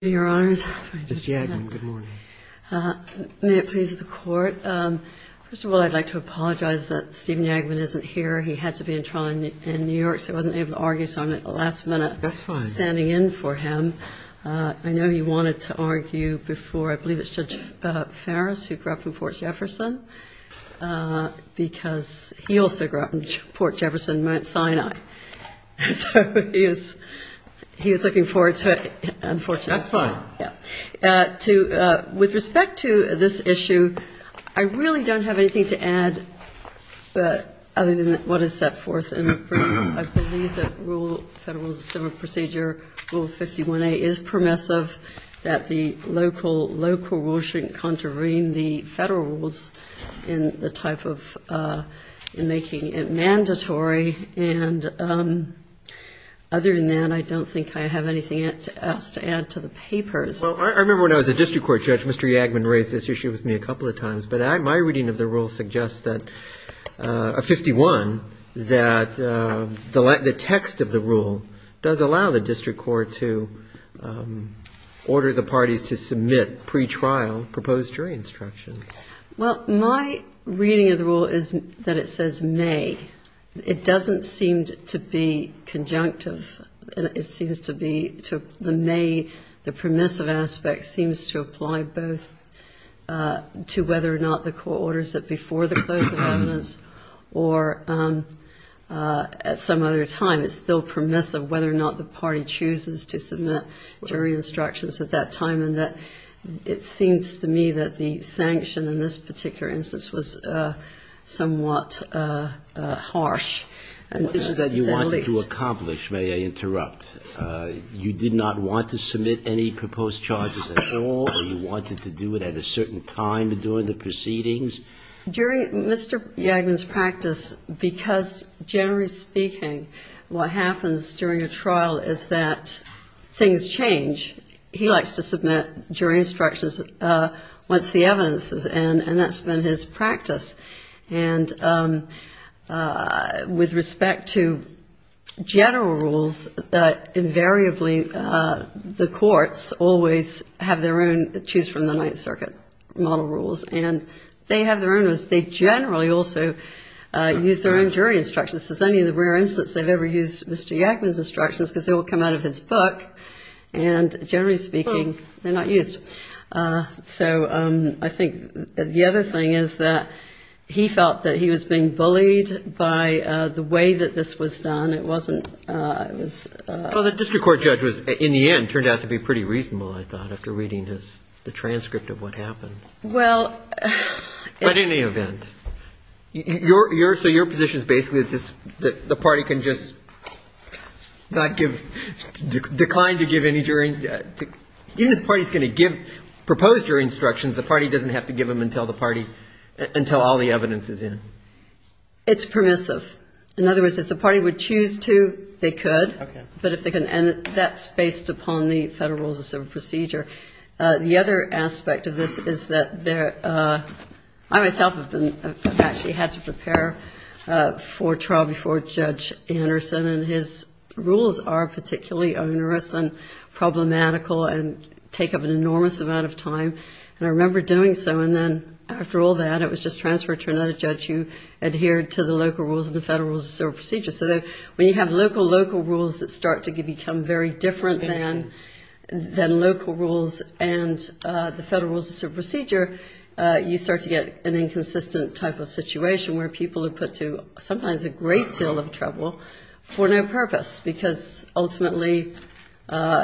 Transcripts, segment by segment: May it please the Court, first of all I'd like to apologize that Steven Yagman isn't here. He had to be in trial in New York so he wasn't able to argue so I'm at the last minute standing in for him. I know he wanted to argue before I believe it's Judge Farris who grew up in Port Jefferson because he also grew up in Port Jefferson, Mount Sinai. So he was looking forward to it unfortunately. That's fine. With respect to this issue, I really don't have anything to add other than what is set forth in the briefs. I believe that Federal Civil Procedure Rule 51A is permissive, that the local rule shouldn't contravene the Federal rules in the type of making it mandatory. And other than that, I don't think I have anything else to add to the papers. Well, I remember when I was a district court judge, Mr. Yagman raised this issue with me a couple of times. But my reading of the rule suggests that, 51, that the text of the rule does allow the district court to order the parties to submit pre-trial proposed jury instruction. Well, my reading of the rule is that it says may. It doesn't seem to be conjunctive. It seems to be the may, the permissive aspect seems to apply both to whether or not the court orders it before the close of evidence or at some other time. It's still permissive whether or not the party chooses to submit jury instructions at that time and that it seems to me that the sanction in this particular instance was somewhat harsh. You wanted to accomplish, may I interrupt, you did not want to submit any proposed charges at all or you wanted to do it at a certain time during the proceedings? During Mr. Yagman's practice, because generally speaking, what happens during a trial is that things change. He likes to submit jury instructions once the evidence is in and that's been his practice. And with respect to general rules, invariably the courts always have their own choose-from-the-Ninth-Circuit model rules. And they have their own rules. They generally also use their own jury instructions. This is only the rare instance they've ever used Mr. Yagman's instructions because they all come out of his book. And generally speaking, they're not used. So I think the other thing is that he felt that he was being bullied by the way that this was done. It wasn't – it was – Well, the district court judge was, in the end, turned out to be pretty reasonable, I thought, after reading the transcript of what happened. Well – But in any event, your – so your position is basically that this – that the party can just not give – decline to give any jury – even if the party is going to give – propose jury instructions, the party doesn't have to give them until the party – until all the evidence is in. It's permissive. In other words, if the party would choose to, they could. Okay. But if they can – and that's based upon the Federal Rules of Civil Procedure. The other aspect of this is that there – I myself have been – have actually had to prepare for trial before Judge Anderson, and his rules are particularly onerous and problematical and take up an enormous amount of time. And I remember doing so, and then after all that, it was just transferred to another judge who adhered to the local rules and the Federal Rules of Civil Procedure. So when you have local, local rules that start to become very different than local rules and the Federal Rules of Civil Procedure, you start to get an inconsistent type of situation where people are put to sometimes a great deal of trouble for no purpose, because ultimately,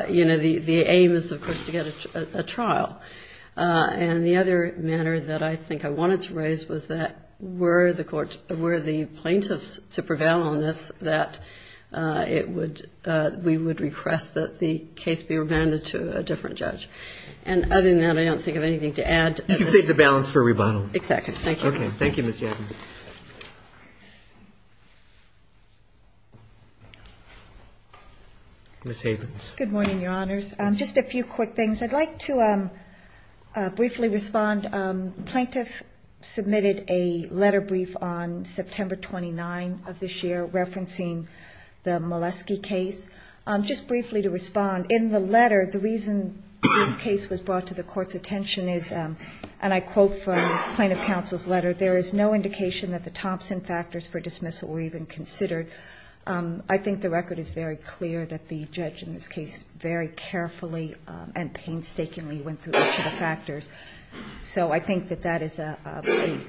you know, the aim is, of course, to get a trial. And the other matter that I think I wanted to raise was that were the court – to prevail on this, that it would – we would request that the case be remanded to a different judge. And other than that, I don't think I have anything to add. You can save the balance for rebuttal. Exactly. Thank you. Okay. Thank you, Ms. Jackson. Ms. Havens. Good morning, Your Honors. Just a few quick things. I'd like to briefly respond. Plaintiff submitted a letter brief on September 29 of this year referencing the Molesky case. Just briefly to respond, in the letter, the reason this case was brought to the court's attention is, and I quote from Plaintiff Counsel's letter, there is no indication that the Thompson factors for dismissal were even considered. I think the record is very clear that the judge in this case very carefully and painstakingly went through each of the factors. So I think that that is a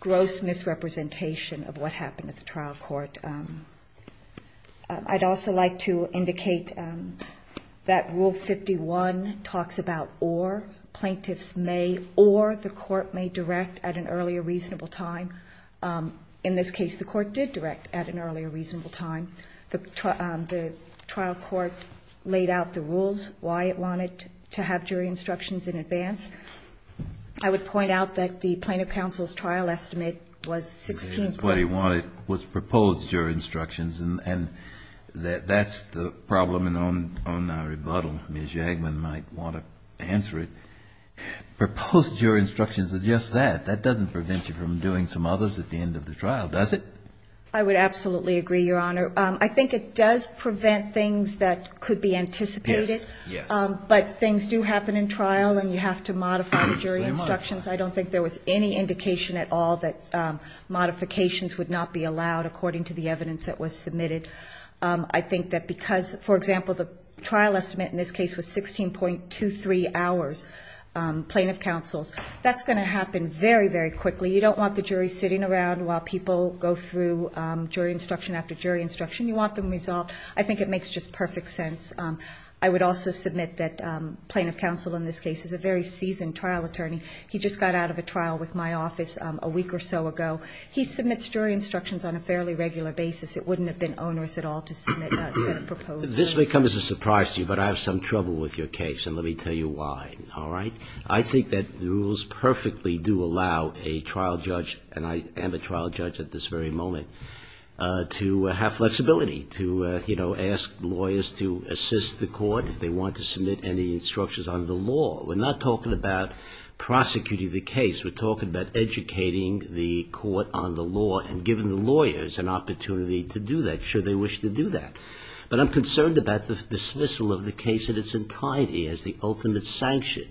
gross misrepresentation of what happened at the trial court. I'd also like to indicate that Rule 51 talks about or. Plaintiffs may or the court may direct at an earlier reasonable time. In this case, the court did direct at an earlier reasonable time. The trial court laid out the rules, why it wanted to have jury instructions in advance. I would point out that the Plaintiff Counsel's trial estimate was 16 points. What he wanted was proposed jury instructions. And that's the problem on our rebuttal. Ms. Jagman might want to answer it. Proposed jury instructions are just that. That doesn't prevent you from doing some others at the end of the trial, does it? I would absolutely agree, Your Honor. I think it does prevent things that could be anticipated. But things do happen in trial, and you have to modify the jury instructions. I don't think there was any indication at all that modifications would not be allowed, according to the evidence that was submitted. I think that because, for example, the trial estimate in this case was 16.23 hours, Plaintiff Counsel's, that's going to happen very, very quickly. You don't want the jury sitting around while people go through jury instruction after jury instruction. You want them resolved. I think it makes just perfect sense. I would also submit that Plaintiff Counsel in this case is a very seasoned trial attorney. He just got out of a trial with my office a week or so ago. He submits jury instructions on a fairly regular basis. It wouldn't have been onerous at all to submit a set of proposed rules. This may come as a surprise to you, but I have some trouble with your case, and let me tell you why. All right? I think that the rules perfectly do allow a trial judge, and I am a trial judge at this very moment, to have flexibility, to, you know, ask lawyers to assist the court if they want to submit any instructions on the law. We're not talking about prosecuting the case. We're talking about educating the court on the law and giving the lawyers an opportunity to do that, should they wish to do that. But I'm concerned about the dismissal of the case in its entirety as the ultimate sanction.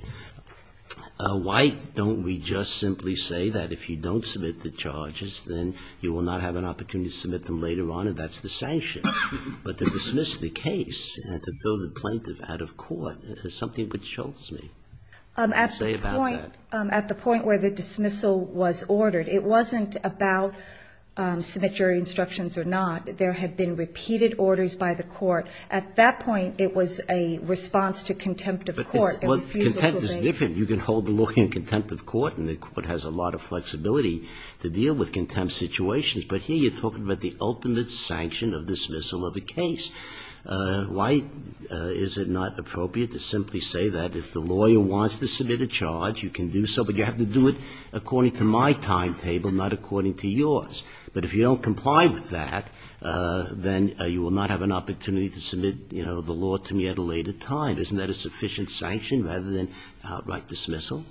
Why don't we just simply say that if you don't submit the charges, then you will not have an opportunity to submit them later on, and that's the sanction? But to dismiss the case and to throw the plaintiff out of court is something which shoves me. Say about that. At the point where the dismissal was ordered, it wasn't about submit jury instructions or not. There had been repeated orders by the court. At that point, it was a response to contempt of court. Sotomayor Well, contempt is different. You can hold the lawyer in contempt of court, and the court has a lot of flexibility to deal with contempt situations. But here you're talking about the ultimate sanction of dismissal of a case. Why is it not appropriate to simply say that if the lawyer wants to submit a charge, you can do so, but you have to do it according to my timetable, not according to yours? But if you don't comply with that, then you will not have an opportunity to submit, you know, the law to me at a later time. Isn't that a sufficient sanction rather than outright dismissal?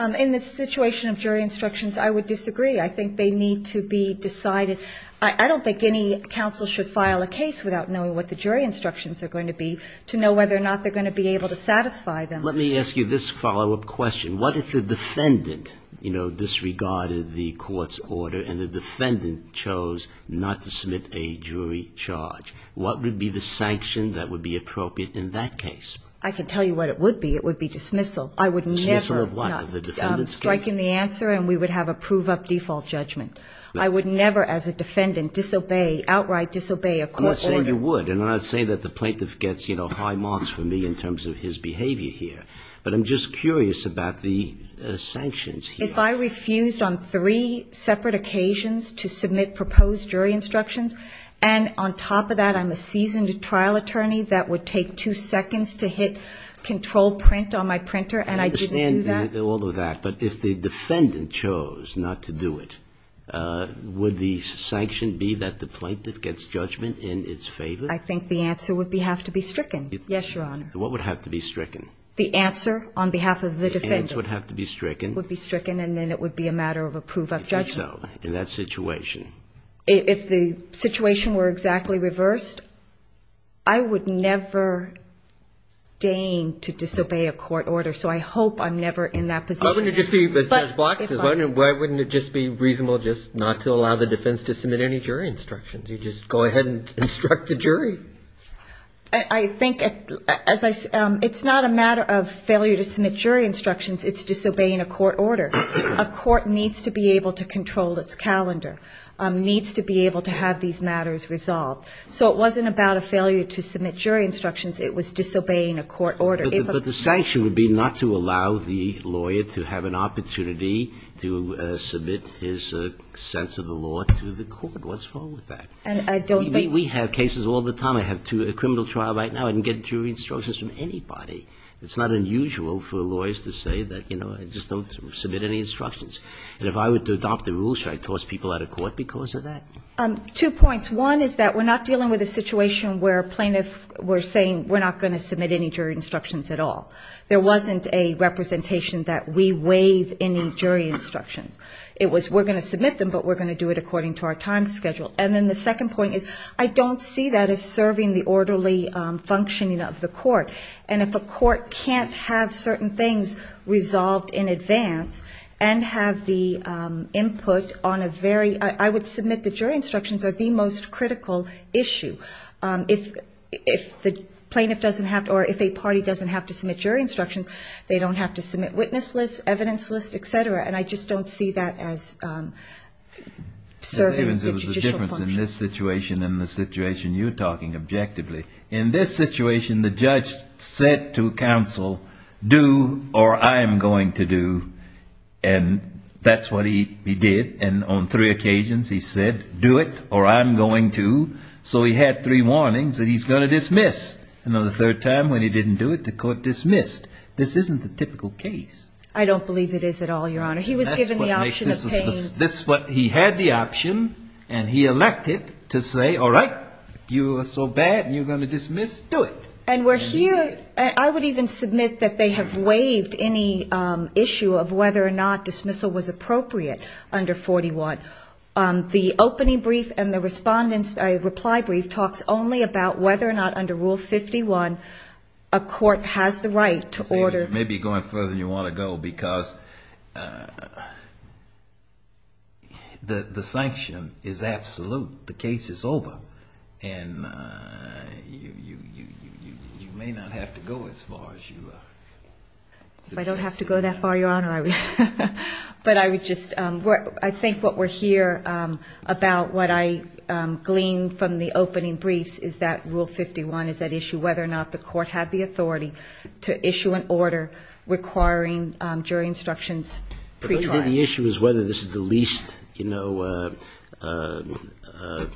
In this situation of jury instructions, I would disagree. I think they need to be decided. I don't think any counsel should file a case without knowing what the jury instructions are going to be to know whether or not they're going to be able to satisfy them. Let me ask you this follow-up question. What if the defendant, you know, disregarded the court's order and the defendant chose not to submit a jury charge? What would be the sanction that would be appropriate in that case? I can tell you what it would be. It would be dismissal. I would never. Dismissal of what? The defendant's case? Striking the answer and we would have a prove-up default judgment. I would never as a defendant disobey, outright disobey a court order. I'm not saying you would. And I'm not saying that the plaintiff gets, you know, high marks from me in terms of his behavior here. But I'm just curious about the sanctions here. If I refused on three separate occasions to submit proposed jury instructions and on top of that I'm a seasoned trial attorney, that would take two seconds to hit control print on my printer and I didn't do that? I understand all of that. But if the defendant chose not to do it, would the sanction be that the plaintiff gets judgment in its favor? I think the answer would have to be stricken. Yes, Your Honor. What would have to be stricken? The answer on behalf of the defendant. The answer would have to be stricken. Would be stricken and then it would be a matter of a prove-up judgment. If so, in that situation? If the situation were exactly reversed, I would never deign to disobey a court order. So I hope I'm never in that position. Why wouldn't it just be reasonable just not to allow the defense to submit any jury instructions? You just go ahead and instruct the jury. I think it's not a matter of failure to submit jury instructions. It's disobeying a court order. A court needs to be able to control its calendar, needs to be able to have these matters resolved. So it wasn't about a failure to submit jury instructions. It was disobeying a court order. But the sanction would be not to allow the lawyer to have an opportunity to submit his sense of the law to the court. What's wrong with that? We have cases all the time. I have a criminal trial right now. I didn't get jury instructions from anybody. It's not unusual for lawyers to say that, you know, I just don't submit any instructions. And if I were to adopt the rules, should I toss people out of court because of that? Two points. One is that we're not dealing with a situation where a plaintiff were saying we're not going to submit any jury instructions at all. There wasn't a representation that we waive any jury instructions. It was we're going to submit them, but we're going to do it according to our time schedule. And then the second point is I don't see that as serving the orderly functioning of the court. And if a court can't have certain things resolved in advance and have the input on a very I would submit the jury instructions are the most critical issue. If the plaintiff doesn't have or if a party doesn't have to submit jury instructions, they don't have to submit witness lists, evidence lists, et cetera. And I just don't see that as serving the judicial function. In this situation, the judge said to counsel, do or I'm going to do, and that's what he did. And on three occasions he said, do it or I'm going to. So he had three warnings that he's going to dismiss. And on the third time when he didn't do it, the court dismissed. This isn't the typical case. That's what he had the option and he elected to say, all right, if you are so bad and you're going to dismiss, do it. And we're here, I would even submit that they have waived any issue of whether or not dismissal was appropriate under 41. The opening brief and the respondent's reply brief talks only about whether or not under Rule 51 a court has the right to order. Maybe going further than you want to go, because the sanction is absolute. The case is over. And you may not have to go as far as you suggest. If I don't have to go that far, Your Honor, but I would just, I think what we're here about, what I gleaned from the opening briefs, is that Rule 51 is at issue whether or not the court had the authority to issue an order requiring jury instructions pre-trial. The issue is whether this is the least, you know,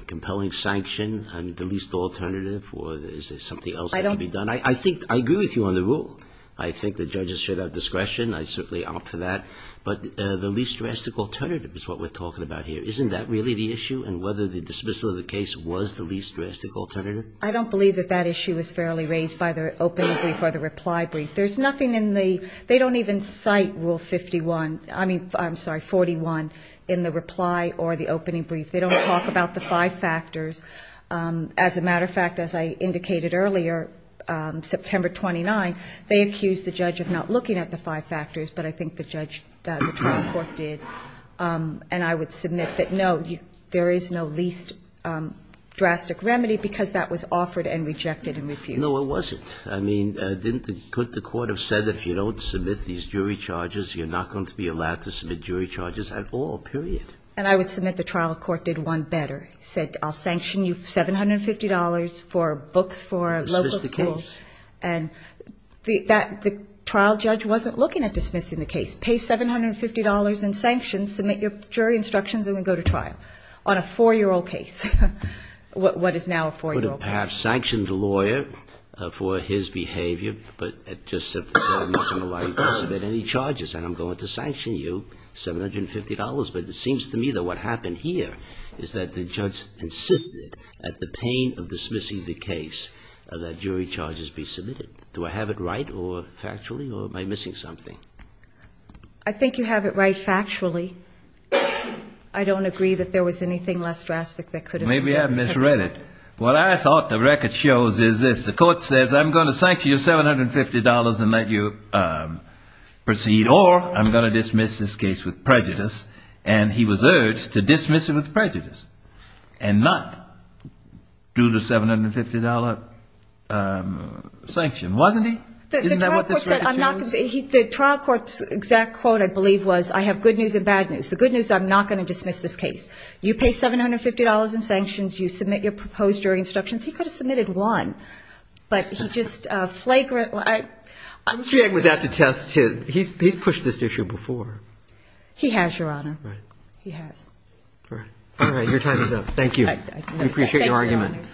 compelling sanction and the least alternative, or is there something else that can be done? I think, I agree with you on the rule. I think the judges should have discretion. I certainly opt for that, but the least drastic alternative is what we're talking about here. Isn't that really the issue, and whether the dismissal of the case was the least drastic alternative? I don't believe that that issue is fairly raised by the opening brief or the reply brief. There's nothing in the, they don't even cite Rule 51, I mean, I'm sorry, 41 in the reply or the opening brief. They don't talk about the five factors. As a matter of fact, as I indicated earlier, September 29, they accused the judge of not looking at the five factors, but I think the trial court did. And I would submit that, no, there is no least drastic remedy, because that was offered and rejected and refused. No, it wasn't. I mean, couldn't the court have said that if you don't submit these jury charges, you're not going to be allowed to submit jury charges at all, period? And I would submit the trial court did one better, said I'll sanction you $750 for books for local schools. Dismiss the case. And the trial judge wasn't looking at dismissing the case. Pay $750 in sanctions, submit your jury instructions, and then go to trial on a 4-year-old case. Or perhaps sanction the lawyer for his behavior, but just said I'm not going to allow you to submit any charges, and I'm going to sanction you $750. But it seems to me that what happened here is that the judge insisted at the pain of dismissing the case that jury charges be submitted. Do I have it right or factually, or am I missing something? I think you have it right factually. I don't agree that there was anything less drastic that could have been. Maybe I misread it. What I thought the record shows is this, the court says I'm going to sanction you $750 and let you proceed, or I'm going to dismiss this case with prejudice, and he was urged to dismiss it with prejudice, and not do the $750 sanction, wasn't he? The trial court's exact quote, I believe, was I have good news and bad news. The good news is I'm not going to dismiss this case. You pay $750 in sanctions, you submit your proposed jury instructions. He could have submitted one, but he just flagrantly ---- He's pushed this issue before. He has, Your Honor. He has. All right. Your time is up. Thank you. I appreciate your argument.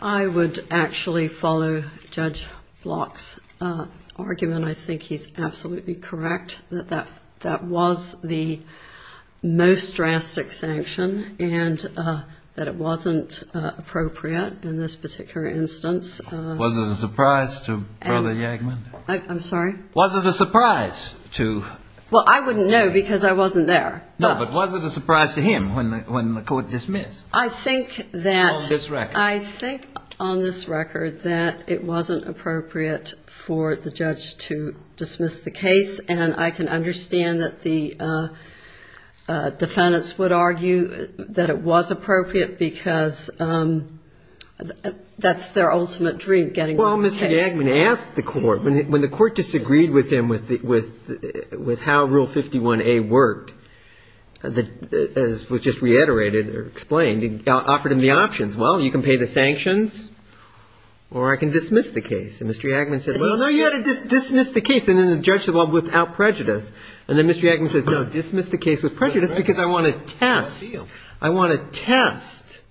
I would actually follow Judge Block's argument. I think he's absolutely correct that that was the most drastic sanction, and that it wasn't appropriate in this particular instance. Was it a surprise to Brother Yagman? Well, I wouldn't know because I wasn't there. No, but was it a surprise to him when the court dismissed on this record? I think on this record that it wasn't appropriate for the judge to dismiss the case, and I can understand that the defendants would argue that it was appropriate because that's their ultimate goal. Well, Mr. Yagman asked the court, when the court disagreed with him with how Rule 51A worked, as was just reiterated or explained, offered him the options, well, you can pay the sanctions or I can dismiss the case. And Mr. Yagman said, well, no, you ought to dismiss the case, and then the judge said, well, without prejudice. And then Mr. Yagman said, no, dismiss the case with prejudice because I want to test.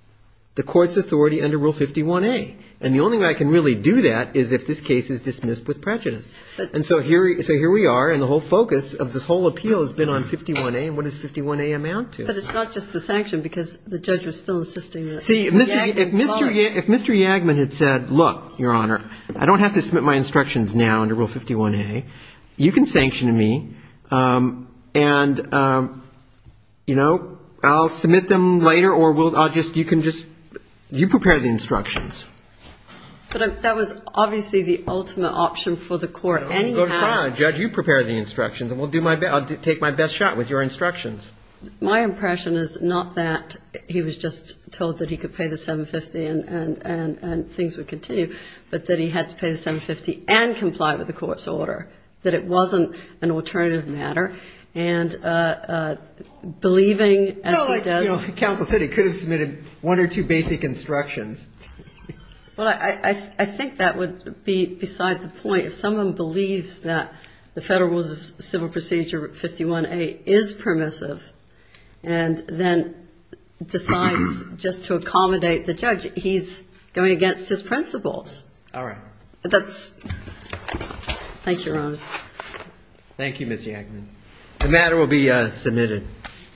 The court's authority under Rule 51A, and the only way I can really do that is if this case is dismissed with prejudice. And so here we are, and the whole focus of this whole appeal has been on 51A, and what does 51A amount to? But it's not just the sanction because the judge was still assisting. See, if Mr. Yagman had said, look, Your Honor, I don't have to submit my instructions now under Rule 51A. You can sanction me, and, you know, I'll submit them later or I'll just dismiss the case. You can just, you can just, you prepare the instructions. But that was obviously the ultimate option for the court, and you had to. Oh, go ahead, Judge, you prepare the instructions, and we'll do my best, I'll take my best shot with your instructions. My impression is not that he was just told that he could pay the 750 and things would continue, but that he had to pay the 750 and comply with the court's order, that it wasn't an alternative matter, and believing as he does. Well, like, you know, counsel said he could have submitted one or two basic instructions. Well, I think that would be beside the point. If someone believes that the Federal Rules of Civil Procedure 51A is permissive and then decides just to accommodate the judge, he's going against his principles. All right. Thank you, Your Honor. Thank you, Ms. Yankman.